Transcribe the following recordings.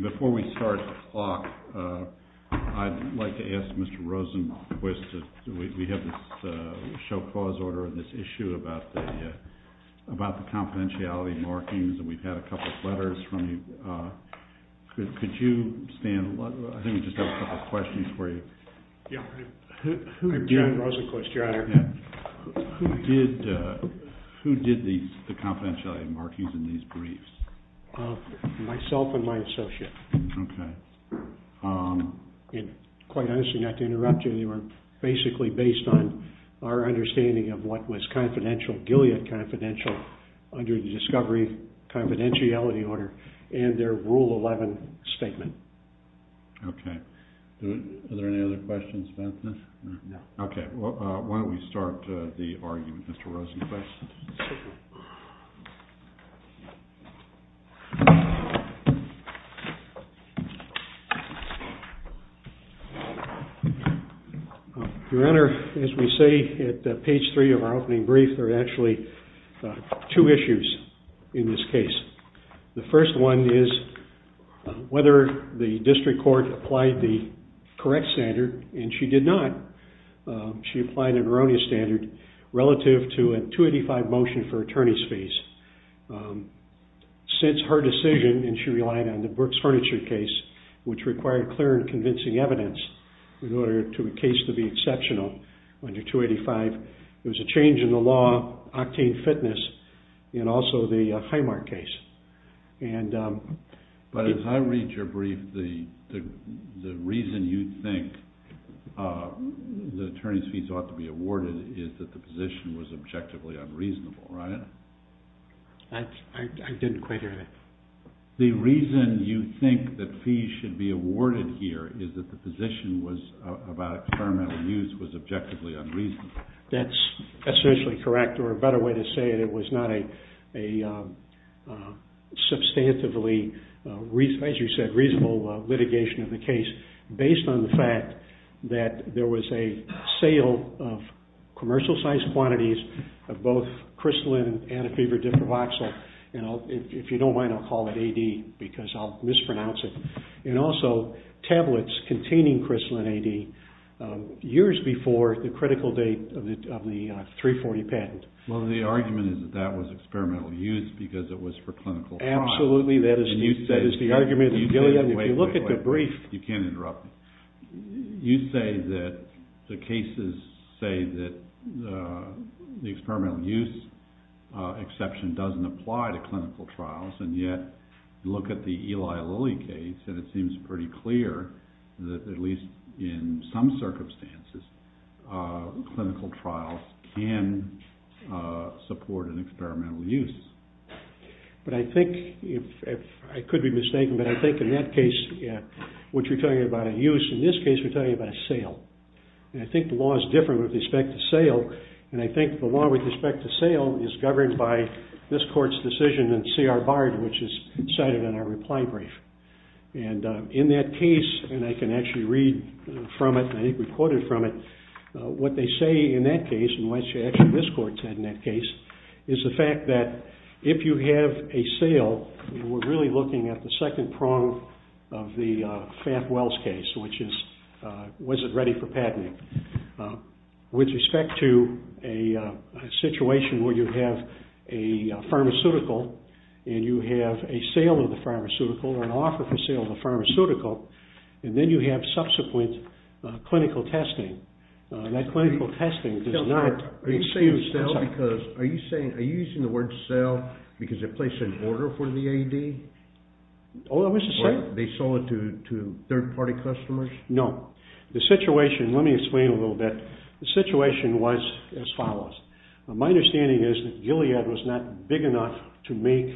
Before we start the talk, I'd like to ask Mr. Rosenquist, we have this show-cause order and this issue about the confidentiality markings, and we've had a couple of letters from you. Could you stand? I think we just have a couple of questions for you. I'm John Rosenquist, your honor. Who did the confidentiality markings in these briefs? Myself and my associate. Quite honestly, not to interrupt you, they were basically based on our understanding of what was Gilead confidential under the Discovery Confidentiality Order and their Rule 11 statement. Okay. Are there any other questions, Benson? No. Okay. Why don't we start the argument, Mr. Rosenquist? Your honor, as we say at page 3 of our opening brief, there are actually two issues in this case. The first one is whether the district court applied the correct standard, and she did not. She applied an erroneous standard relative to a 285 motion for attorney's fees. Since her decision, and she relied on the Brooks Furniture case, which required clear and convincing evidence in order for a case to be exceptional under 285, there was a change in the law, octane fitness, and also the Highmark case. But as I read your brief, the reason you think the attorney's fees ought to be awarded is that the position was objectively unreasonable, right? I didn't quite hear that. The reason you think that fees should be awarded here is that the position about experimental use was objectively unreasonable. That's essentially correct, or a better way to say it, it was not a substantively, as you said, reasonable litigation of the case based on the fact that there was a sale of commercial-sized quantities of both Crystalline Antifever Diprovoxyl. If you don't mind, I'll call it AD because I'll mispronounce it. And also tablets containing Crystalline AD years before the critical date of the 340 patent. Well, the argument is that that was experimental use because it was for clinical trials. Absolutely, that is the argument. If you look at the brief... You can't interrupt me. You say that the cases say that the experimental use exception doesn't apply to clinical trials, and yet look at the Eli Lilly case and it seems pretty clear that at least in some circumstances clinical trials can support an experimental use. But I think, I could be mistaken, but I think in that case, what you're telling me about a use, in this case we're talking about a sale. And I think the law is different with respect to sale, and I think the law with respect to sale is governed by this court's decision in C.R. Bard, which is cited in our reply brief. And in that case, and I can actually read from it, I think recorded from it, what they say in that case, and what actually this court said in that case, is the fact that if you have a sale, we're really looking at the second prong of the Faft-Wells case, which is, was it ready for patenting? With respect to a situation where you have a pharmaceutical, and you have a sale of the pharmaceutical, or an offer for sale of the pharmaceutical, and then you have subsequent clinical testing. That clinical testing does not... Are you saying sell because, are you saying, are you using the word sell because they placed an order for the AD? Oh, I was just saying... Or they sold it to third party customers? No. The situation, let me explain a little bit. The situation was as follows. My understanding is that Gilead was not big enough to make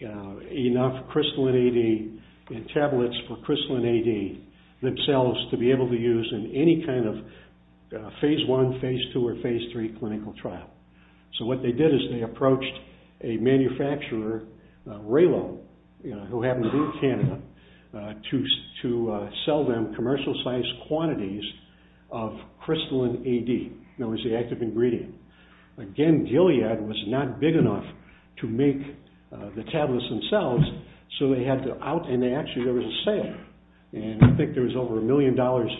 enough Crystalline AD, and tablets for Crystalline AD themselves to be able to use in any kind of Phase I, Phase II, or Phase III clinical trial. So what they did is they approached a manufacturer, Raylo, who happened to be in Canada, to sell them commercial size quantities of Crystalline AD, that was the active ingredient. Again, Gilead was not big enough to make the tablets themselves, so they had to out, and actually there was a sale. And I think there was over a million dollars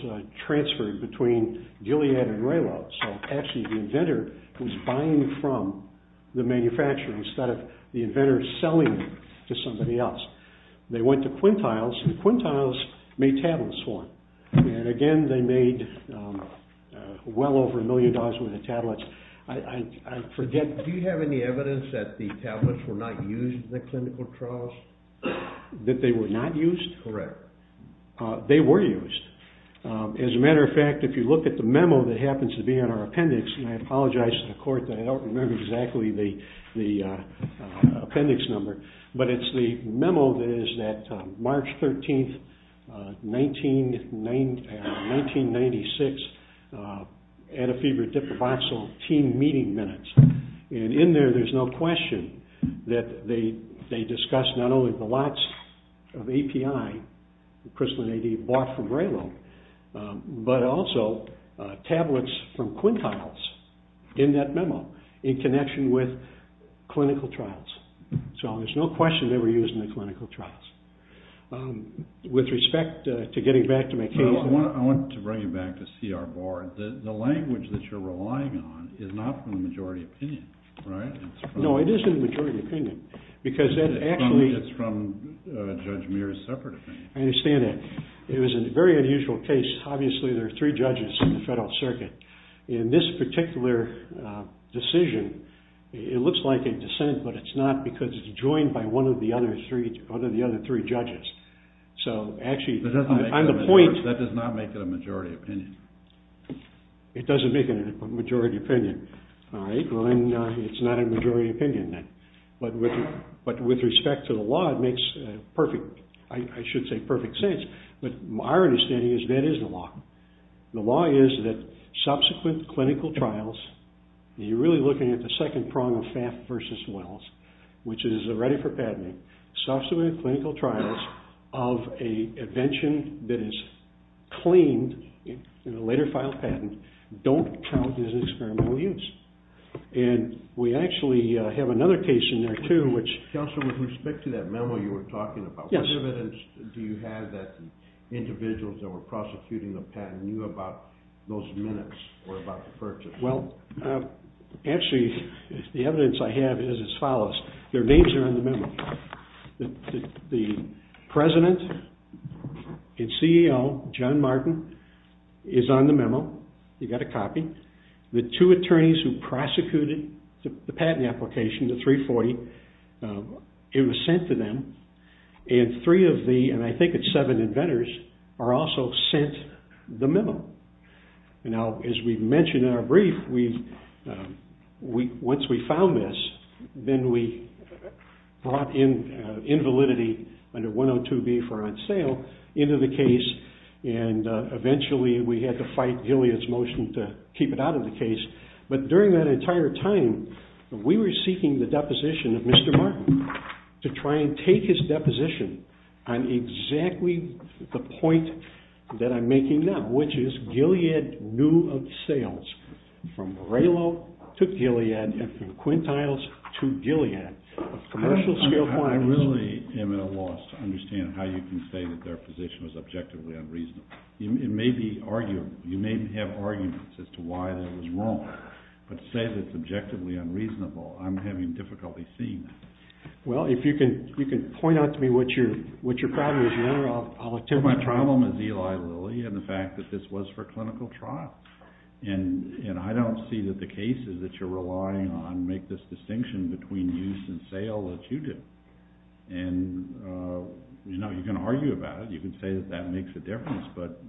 transferred between Gilead and Raylo. So actually the inventor was buying from the manufacturer instead of the inventor selling to somebody else. They went to Quintiles, and Quintiles made tablets for them. And again, they made well over a million dollars worth of tablets. I forget... Do you have any evidence that the tablets were not used in the clinical trials? That they were not used? Correct. They were used. As a matter of fact, if you look at the memo that happens to be on our appendix, and I apologize to the court that I don't remember exactly the appendix number, but it's the memo that is that March 13th, 1996, Adafib or Diproboxyl team meeting minutes. And in there there's no question that they discussed not only the lots of API, Crystalline AD bought from Raylo, but also tablets from Quintiles in that memo in connection with clinical trials. So there's no question they were used in the clinical trials. With respect to getting back to my case... Well, I want to bring you back to see our board. The language that you're relying on is not from the majority opinion, right? No, it is in the majority opinion because that actually... I understand that. It was a very unusual case. Obviously, there are three judges in the Federal Circuit. In this particular decision, it looks like a dissent, but it's not because it's joined by one of the other three judges. So actually, I'm the point... That does not make it a majority opinion. It doesn't make it a majority opinion. All right. Well, then it's not a majority opinion then. But with respect to the law, it makes perfect. I should say perfect sense. But my understanding is that is the law. The law is that subsequent clinical trials, and you're really looking at the second prong of FAFT versus Wells, which is a ready for patenting. Subsequent clinical trials of a invention that is cleaned in a later filed patent don't count as an experimental use. And we actually have another case in there too, which... What evidence do you have that individuals that were prosecuting the patent knew about those minutes or about the purchase? Well, actually, the evidence I have is as follows. Their names are in the memo. The president and CEO, John Martin, is on the memo. He got a copy. The two attorneys who prosecuted the patent application, the 340, it was sent to them. And three of the, and I think it's seven inventors, are also sent the memo. Now, as we mentioned in our brief, once we found this, then we brought in invalidity under 102B for on sale into the case, and eventually we had to fight Gilead's motion to keep it out of the case. But during that entire time, we were seeking the deposition of Mr. Martin to try and take his deposition on exactly the point that I'm making now, which is Gilead knew of sales from Raylo to Gilead and from Quintiles to Gilead of commercial-scale clients. I really am at a loss to understand how you can say that their position was objectively unreasonable. It may be arguable. You may have arguments as to why that was wrong, but to say that it's objectively unreasonable, I'm having difficulty seeing that. Well, if you can point out to me what your problem is there, I'll attempt my trial. My problem is Eli Lilly and the fact that this was for clinical trial. And I don't see that the cases that you're relying on make this distinction between use and sale as you do. And, you know, you can argue about it, you can say that that makes a difference, but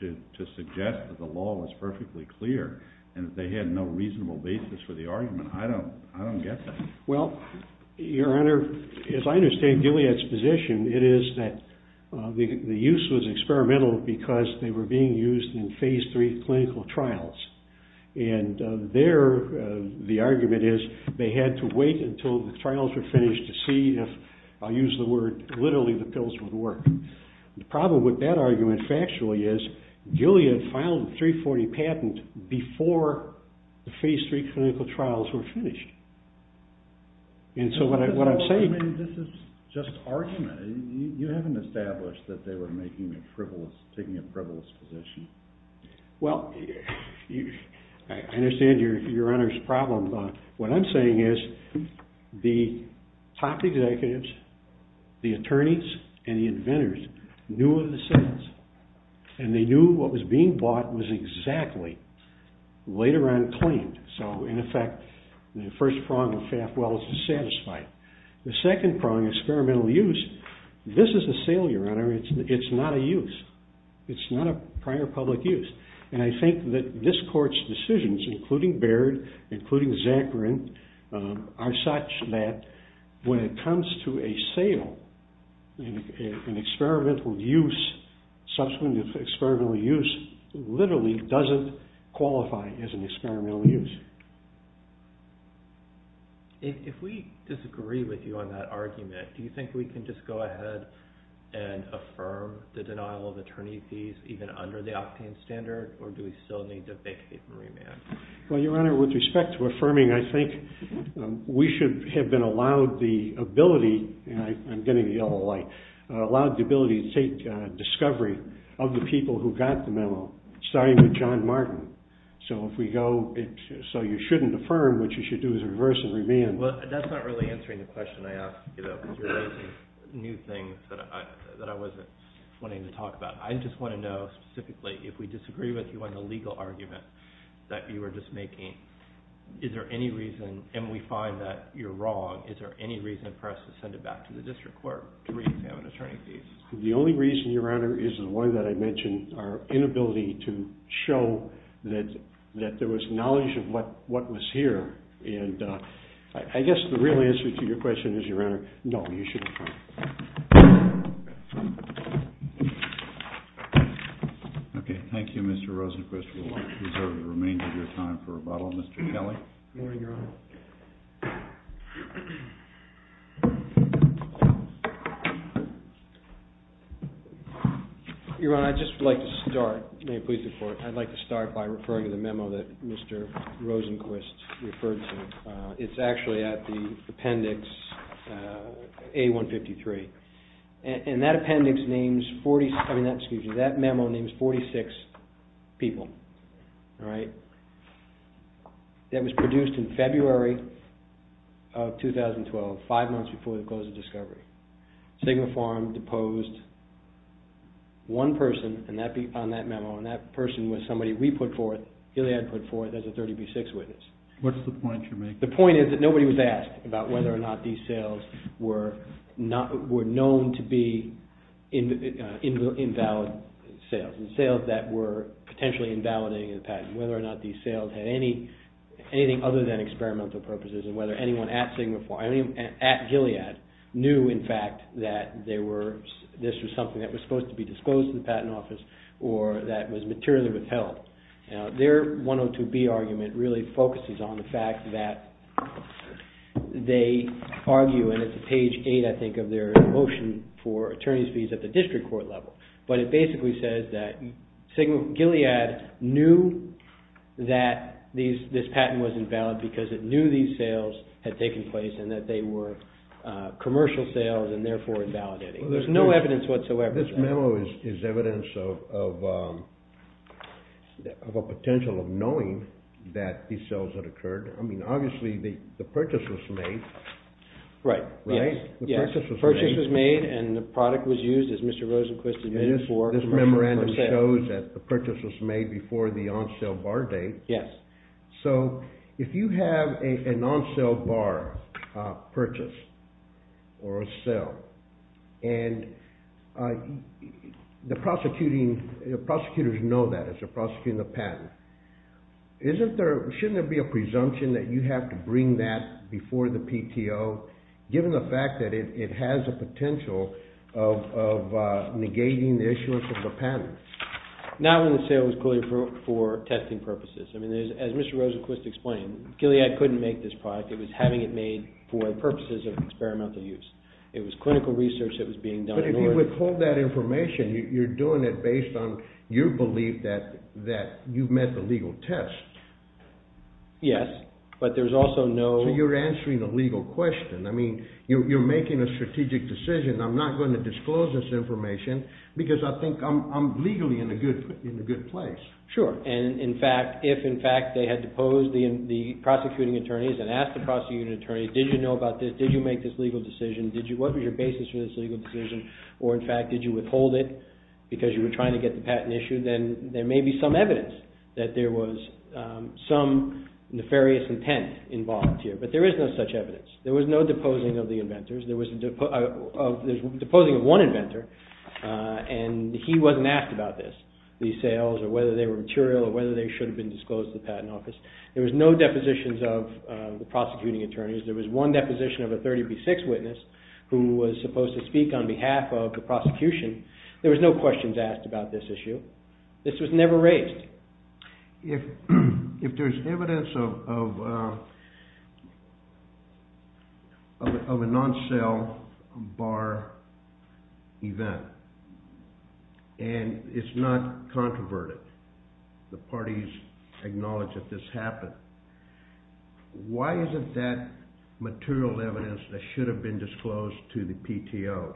to suggest that the law was perfectly clear and that they had no reasonable basis for the argument, I don't get that. Well, Your Honor, as I understand Gilead's position, it is that the use was experimental because they were being used in Phase III clinical trials. And there the argument is they had to wait until the trials were finished to see if, I'll use the word, literally the pills would work. The problem with that argument factually is Gilead filed a 340 patent before the Phase III clinical trials were finished. And so what I'm saying... This is just argument. You haven't established that they were making a frivolous, taking a frivolous position. Well, I understand Your Honor's problem, but what I'm saying is the top executives, the attorneys and the inventors knew of the sales and they knew what was being bought was exactly later on claimed. So, in effect, the first prong of Faft-Wells is satisfied. The second prong, experimental use, this is a sale, Your Honor. It's not a use. It's not a prior public use. And I think that this Court's decisions, including Baird, including Zakarin, are such that when it comes to a sale, an experimental use, subsequent experimental use, this literally doesn't qualify as an experimental use. If we disagree with you on that argument, do you think we can just go ahead and affirm the denial of attorney fees even under the Octane standard, or do we still need to vacate and remand? Well, Your Honor, with respect to affirming, I think we should have been allowed the ability, and I'm getting the yellow light, allowed the ability to take discovery of the people who got the memo, starting with John Martin. So if we go, so you shouldn't affirm, what you should do is reverse and remand. Well, that's not really answering the question I asked, because you're raising new things that I wasn't wanting to talk about. I just want to know, specifically, if we disagree with you on the legal argument that you were just making, is there any reason, and we find that you're wrong, is there any reason for us to send it back to the District Court to reexamine attorney fees? The only reason, Your Honor, is the one that I mentioned, our inability to show that there was knowledge of what was here, and I guess the real answer to your question is, Your Honor, no, you should affirm. Okay, thank you, Mr. Rosenquist. We'll reserve the remainder of your time for rebuttal. Mr. Kelly? Good morning, Your Honor. Your Honor, I'd just like to start, may it please the Court, I'd like to start by referring to the memo that Mr. Rosenquist referred to. It's actually at the appendix A-153, and that memo names 46 people, all right, five months before the close of discovery. Sigma Farm deposed one person on that memo, and that person was somebody we put forth, Gilead put forth as a 30B6 witness. What's the point you're making? The point is that nobody was asked about whether or not these sales were known to be invalid sales, and sales that were potentially invalidating the patent, whether or not these sales had anything other than experimental purposes, and whether anyone at Sigma Farm, Gilead, knew, in fact, that this was something that was supposed to be disposed of in the patent office, or that was materially withheld. Their 102B argument really focuses on the fact that they argue, and it's at page 8, I think, of their motion for attorney's fees at the district court level, but it basically says that Gilead knew that this patent was invalid because it knew these sales had taken place and that they were commercial sales and therefore invalidating. There's no evidence whatsoever. This memo is evidence of a potential of knowing that these sales had occurred. I mean, obviously, the purchase was made. Right. Right? The purchase was made, and the product was used, as Mr. Rosenquist admitted, for commercial purposes. This memorandum shows that the purchase was made before the on-sale bar date. Yes. So if you have a non-sale bar purchase or a sale, and the prosecutors know that as they're prosecuting the patent, shouldn't there be a presumption that you have to bring that before the PTO given the fact that it has a potential of negating the issuance of the patent? Not when the sale was clearly for testing purposes. I mean, as Mr. Rosenquist explained, Gilead couldn't make this product. It was having it made for purposes of experimental use. It was clinical research that was being done. But if you withhold that information, you're doing it based on your belief that you've met the legal test. Yes, but there's also no... So you're answering a legal question. I mean, you're making a strategic decision. I'm not going to disclose this information because I think I'm legally in a good place. Sure. If, in fact, they had deposed the prosecuting attorneys and asked the prosecuting attorneys, did you know about this? Did you make this legal decision? What was your basis for this legal decision? Or, in fact, did you withhold it because you were trying to get the patent issued? Then there may be some evidence that there was some nefarious intent involved here. But there is no such evidence. There was no deposing of the inventors. There was deposing of one inventor, and he wasn't asked about this, the sales or whether they were material or whether they should have been disclosed to the patent office. There was no depositions of the prosecuting attorneys. There was one deposition of a 30B6 witness who was supposed to speak on behalf of the prosecution. There was no questions asked about this issue. This was never raised. If there's evidence of... of a non-sale bar event, and it's not controverted, the parties acknowledge that this happened, why isn't that material evidence that should have been disclosed to the PTO?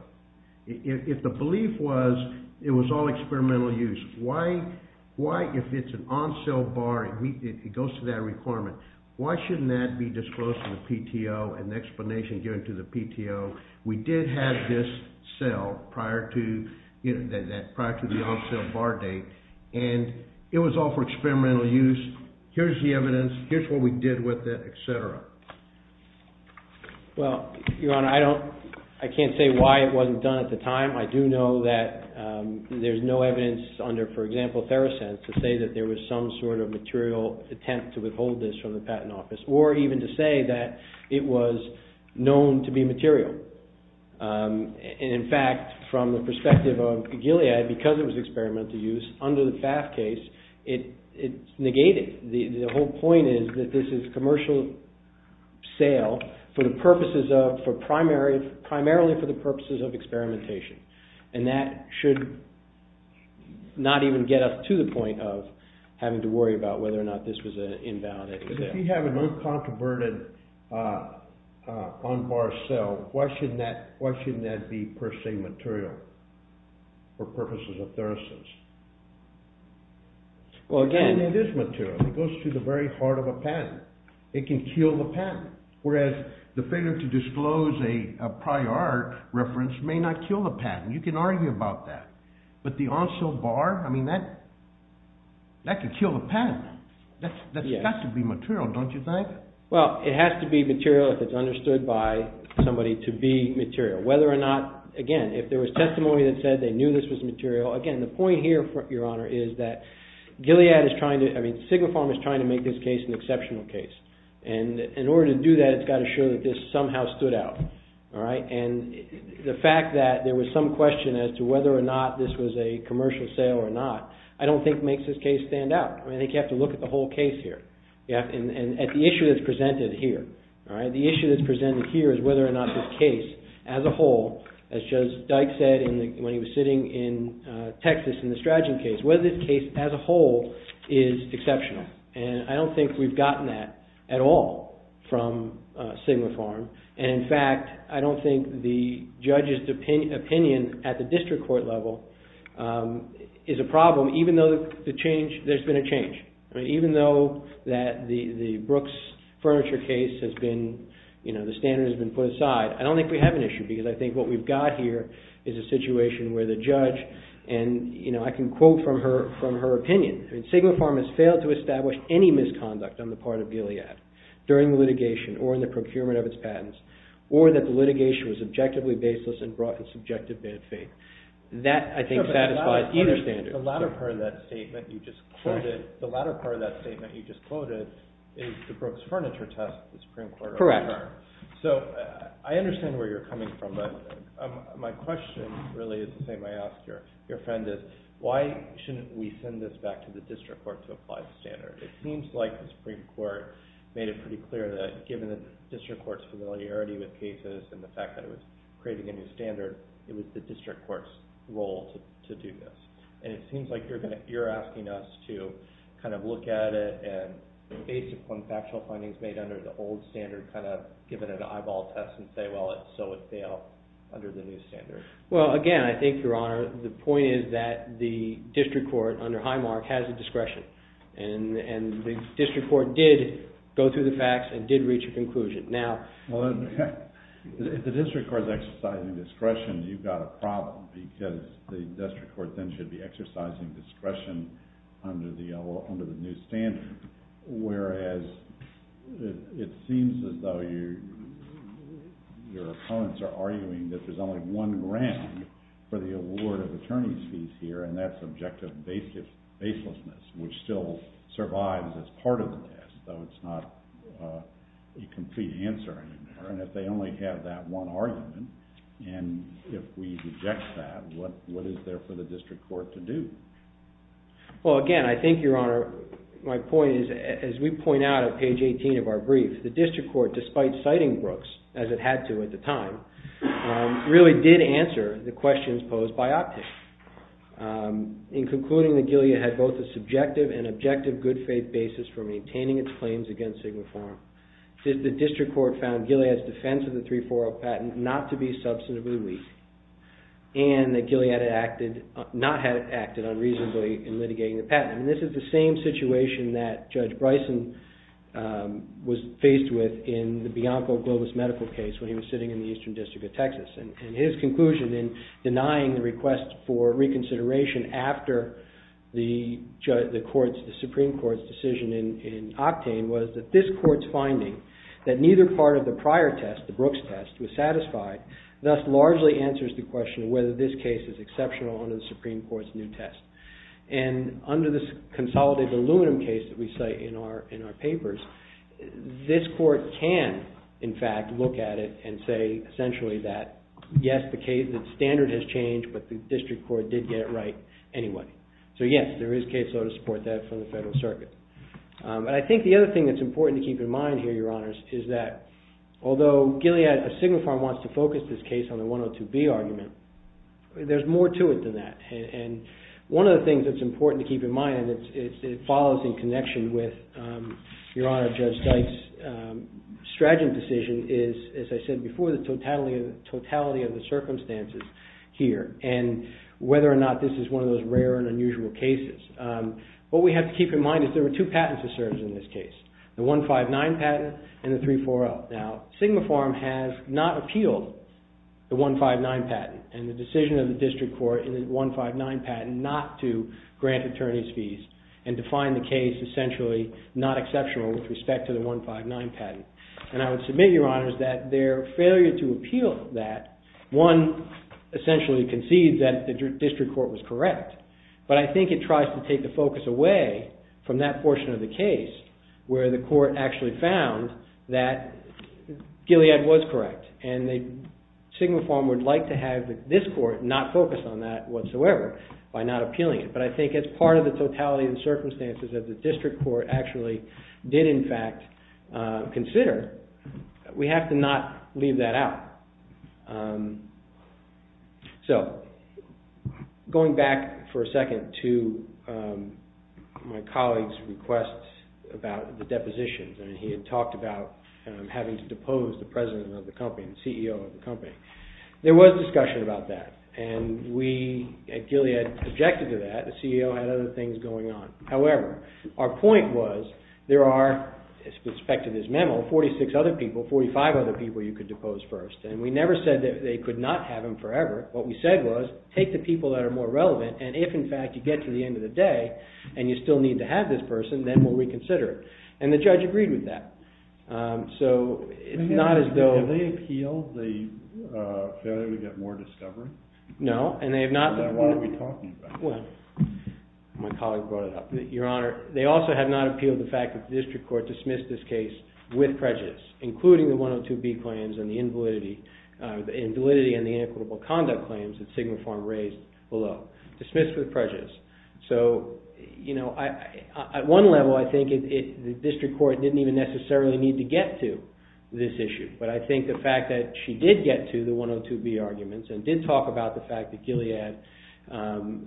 If the belief was it was all experimental use, why, if it's an on-sale bar, it goes to that requirement, why shouldn't that be disclosed to the PTO and the explanation given to the PTO? We did have this sale prior to... prior to the on-sale bar date, and it was all for experimental use. Here's the evidence. Here's what we did with it, et cetera. Well, Your Honor, I don't... I can't say why it wasn't done at the time. I do know that there's no evidence under, for example, Therosense, to say that there was some sort of material attempt to withhold this from the patent office or even to say that it was known to be material. In fact, from the perspective of Gilead, because it was experimental use, under the FAF case, it's negated. The whole point is that this is commercial sale for the purposes of... primarily for the purposes of experimentation, and that should not even get up to the point of having to worry about whether or not this was an invalidated sale. If you have an uncontroverted on-bar sale, why shouldn't that be, per se, material for purposes of Therosense? Well, again, it is material. It goes to the very heart of a patent. It can kill the patent, whereas the failure to disclose a prior reference may not kill the patent. You can argue about that. But the on-sale bar, I mean, that... that could kill the patent. That's got to be material, don't you think? Well, it has to be material if it's understood by somebody to be material. Whether or not, again, if there was testimony that said they knew this was material, again, the point here, Your Honor, is that Gilead is trying to... I mean, Sigma Farm is trying to make this case an exceptional case. And in order to do that, it's got to show that this somehow stood out. All right? And the fact that there was some question as to whether or not this was a commercial sale or not, I don't think makes this case stand out. I mean, I think you have to look at the whole case here. And at the issue that's presented here. All right? The issue that's presented here is whether or not this case, as a whole, as Judge Dyke said when he was sitting in Texas in the Stratton case, whether this case as a whole is exceptional. And I don't think we've gotten that at all from Sigma Farm. And, in fact, I don't think the judge's opinion at the district court level is a problem, even though the change... I mean, even though that the Brooks furniture case has been... You know, the standard has been put aside. I don't think we have an issue because I think what we've got here is a situation where the judge... And, you know, I can quote from her opinion. I mean, Sigma Farm has failed to establish any misconduct on the part of Gilead during the litigation or in the procurement of its patents or that the litigation was objectively baseless and brought in subjective bad faith. That, I think, satisfies either standard. The latter part of that statement you just quoted is the Brooks furniture test the Supreme Court... Correct. So I understand where you're coming from, but my question really is the same I asked your friend is, why shouldn't we send this back to the district court to apply the standard? It seems like the Supreme Court made it pretty clear that given the district court's familiarity with cases and the fact that it was creating a new standard, it was the district court's role to do this. And it seems like you're asking us to kind of look at it and, based upon factual findings made under the old standard, kind of give it an eyeball test and say, well, so it failed under the new standard. Well, again, I think, Your Honor, the point is that the district court under Highmark has the discretion. And the district court did go through the facts and did reach a conclusion. Now... If the district court is exercising discretion, you've got a problem because the district court then should be exercising discretion under the new standard, whereas it seems as though your opponents are arguing that there's only one ground for the award of attorney's fees here, and that's objective baselessness, which still survives as part of the test, though it's not a complete answer anymore. And if they only have that one argument and if we reject that, what is there for the district court to do? Well, again, I think, Your Honor, my point is, as we point out at page 18 of our brief, the district court, despite citing Brooks, as it had to at the time, really did answer the questions posed by Optic. In concluding that Gilead had both a subjective and objective good faith basis for maintaining its claims against Sigma Pharma, the district court found Gilead's defense of the 340 patent not to be substantively weak, and that Gilead had not acted unreasonably in litigating the patent. And this is the same situation that Judge Bryson was faced with in the Bianco-Globus medical case when he was sitting in the Eastern District of Texas. And his conclusion in denying the request for reconsideration after the Supreme Court's decision in Octane was that this court's finding that neither part of the prior test, the Brooks test, was satisfied, thus largely answers the question whether this case is exceptional under the Supreme Court's new test. And under this consolidated aluminum case that we cite in our papers, this court can, in fact, look at it and say, essentially, that, yes, the standard has changed, but the district court did get it right anyway. So, yes, there is case law to support that from the Federal Circuit. And I think the other thing that's important to keep in mind here, Your Honors, is that although Gilead of Signal Farm wants to focus this case on the 102B argument, there's more to it than that. And one of the things that's important to keep in mind, and it follows in connection with Your Honor, Judge Sykes' strategy decision, is, as I said before, the totality of the circumstances here and whether or not this is one of those rare and unusual cases. What we have to keep in mind is there were two patents that served in this case, the 159 patent and the 34L. Now, Signal Farm has not appealed the 159 patent and the decision of the district court in the 159 patent not to grant attorney's fees and define the case, essentially, not exceptional with respect to the 159 patent. And I would submit, Your Honors, that their failure to appeal that, one, essentially, concedes that the district court was correct, but I think it tries to take the focus away from that portion of the case where the court actually found that Gilead was correct and Signal Farm would like to have this court not focus on that whatsoever by not appealing it. But I think as part of the totality of the circumstances that the district court actually did, in fact, consider, we have to not leave that out. So, going back for a second to my colleague's request about the depositions. I mean, he had talked about having to depose the president of the company, the CEO of the company. There was discussion about that and we at Gilead objected to that. The CEO had other things going on. However, our point was there are, as expected in this memo, 46 other people, 45 other people you could depose first. And we never said that they could not have them forever. What we said was take the people that are more relevant and if, in fact, you get to the end of the day and you still need to have this person, then we'll reconsider it. And the judge agreed with that. So, it's not as though... Did they appeal the failure to get more discovery? No, and they have not... Then what are we talking about? My colleague brought it up. Your Honor, they also have not appealed the fact that the district court dismissed this case with prejudice, including the 102B claims and the invalidity and the inequitable conduct claims that Sigma Farm raised below. Dismissed with prejudice. So, at one level, I think the district court didn't even necessarily need to get to this issue. But I think the fact that she did get to the 102B arguments and did talk about the fact that Gilead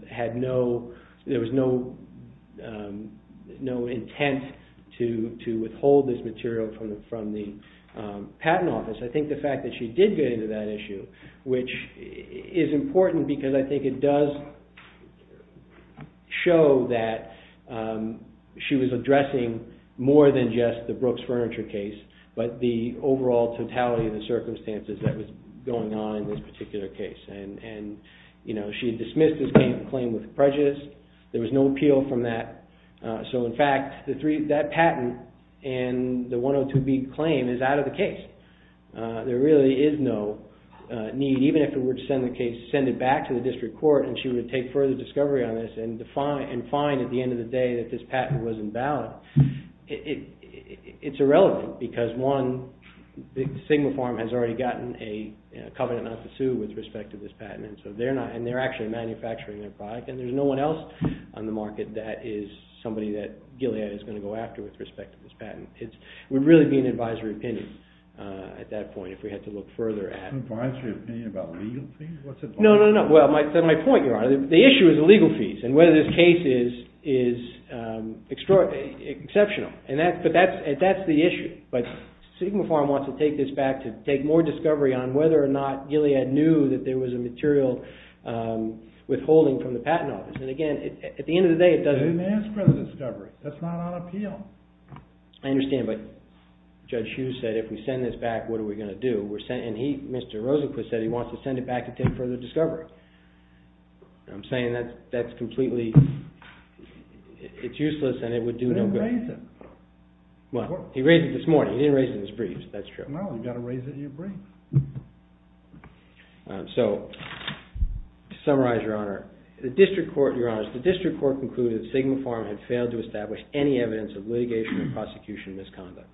had no... There was no intent to withhold this material from the patent office. I think the fact that she did get into that issue, which is important because I think it does show that she was addressing more than just the Brooks Furniture case, but the overall totality of the circumstances that was going on in this particular case. And she dismissed this claim with prejudice. There was no appeal from that. So, in fact, that patent and the 102B claim is out of the case. There really is no need, even if it were to send the case, send it back to the district court and she would take further discovery on this and find, at the end of the day, that this patent wasn't valid. It's irrelevant because, one, Sigma Farm has already gotten a covenant not to sue with respect to this patent, and they're actually manufacturing their product and there's no one else on the market that is somebody that Gilead is going to go after with respect to this patent. It would really be an advisory opinion. At that point, if we had to look further at... Advisory opinion about legal fees? No, no, no. Well, that's my point, Your Honor. The issue is the legal fees and whether this case is exceptional. But that's the issue. But Sigma Farm wants to take this back to take more discovery on whether or not Gilead knew that there was a material withholding from the patent office. And, again, at the end of the day, it doesn't... They didn't ask for the discovery. That's not on appeal. I understand, but Judge Hughes said if we send this back, what are we going to do? And he, Mr. Rosenquist, said he wants to send it back to take further discovery. I'm saying that's completely... It's useless and it would do no good. He didn't raise it. Well, he raised it this morning. He didn't raise it in his briefs. That's true. No, you've got to raise it in your briefs. So, to summarize, Your Honor, the district court, Your Honors, the district court concluded that Sigma Farm had failed to establish any evidence of litigation or prosecution misconduct.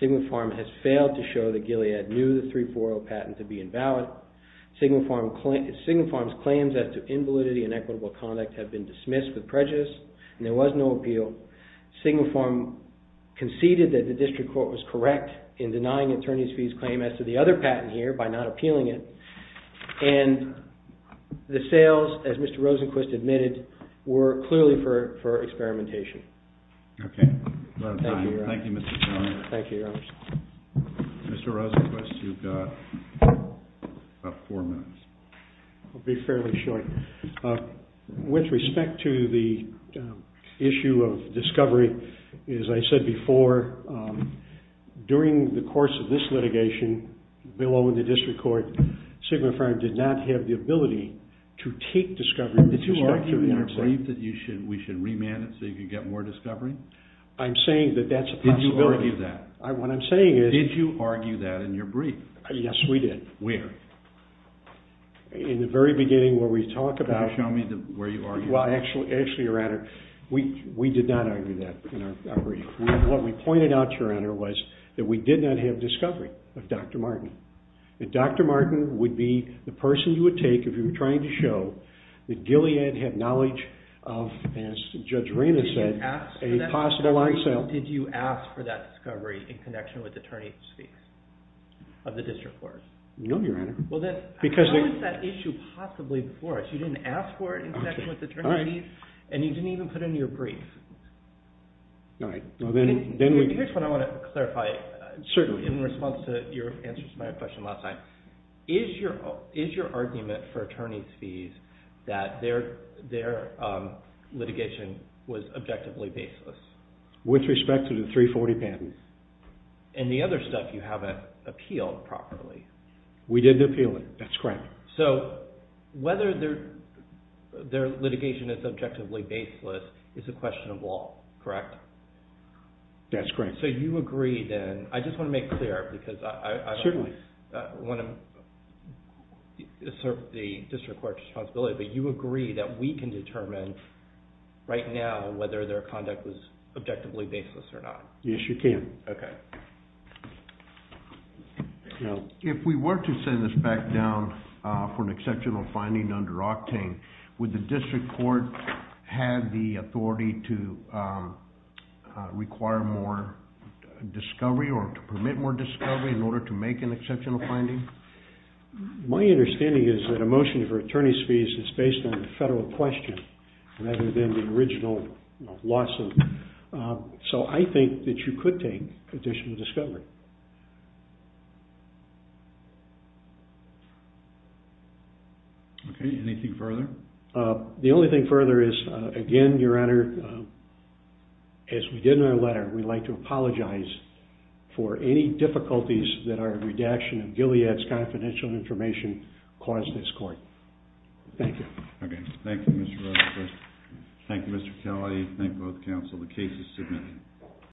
Sigma Farm has failed to show that Gilead knew the 340 patent to be invalid. Sigma Farm's claims as to invalidity and equitable conduct have been dismissed with prejudice and there was no appeal. Sigma Farm conceded that the district court was correct in denying attorney's fees claim as to the other patent here by not appealing it. And the sales, as Mr. Rosenquist admitted, were clearly for experimentation. Okay. Thank you, Your Honor. Thank you, Mr. Chairman. Thank you, Your Honors. Mr. Rosenquist, you've got about 4 minutes. I'll be fairly short. With respect to the issue of discovery, as I said before, during the course of this litigation, below in the district court, Sigma Farm did not have the ability to take discovery with respect to... Did you argue in your brief that we should remand it so you could get more discovery? I'm saying that that's a possibility. Did you argue that? What I'm saying is... Did you argue that in your brief? Yes, we did. Where? In the very beginning where we talk about... Can you show me where you argued that? Well, actually, Your Honor, we did not argue that in our brief. What we pointed out, Your Honor, was that we did not have discovery of Dr. Martin. That Dr. Martin would be the person you would take if you were trying to show that Gilead had knowledge of, as Judge Reina said, a possible on sale. Did you ask for that discovery in connection with attorney's fees of the district court? No, Your Honor. How is that issue possibly before us? You didn't ask for it in connection with attorney's fees, and you didn't even put it in your brief. All right. Here's what I want to clarify. In response to your answer to my question last time, is your argument for attorney's fees that their litigation was objectively baseless? With respect to the 340 patents. And the other stuff you haven't appealed properly? We didn't appeal it. That's correct. So, whether their litigation is objectively baseless is a question of law, correct? That's correct. So, you agree then... I just want to make clear because I... Certainly. I want to assert the district court's responsibility, but you agree that we can determine right now whether their conduct was objectively baseless or not? Yes, you can. Okay. If we were to send this back down for an exceptional finding under Octane, would the district court have the authority to require more discovery or to permit more discovery in order to make an exceptional finding? My understanding is that a motion for attorney's fees is based on the federal question rather than the original lawsuit. So, I think that you could take additional discovery. Okay. Anything further? The only thing further is, again, Your Honor, as we did in our letter, we'd like to apologize for any difficulties that our redaction of Gilead's confidential information caused this court. Thank you. Okay. Thank you, Mr. Rocha. Thank you, Mr. Kelly. Thank both counsel. The case is submitted.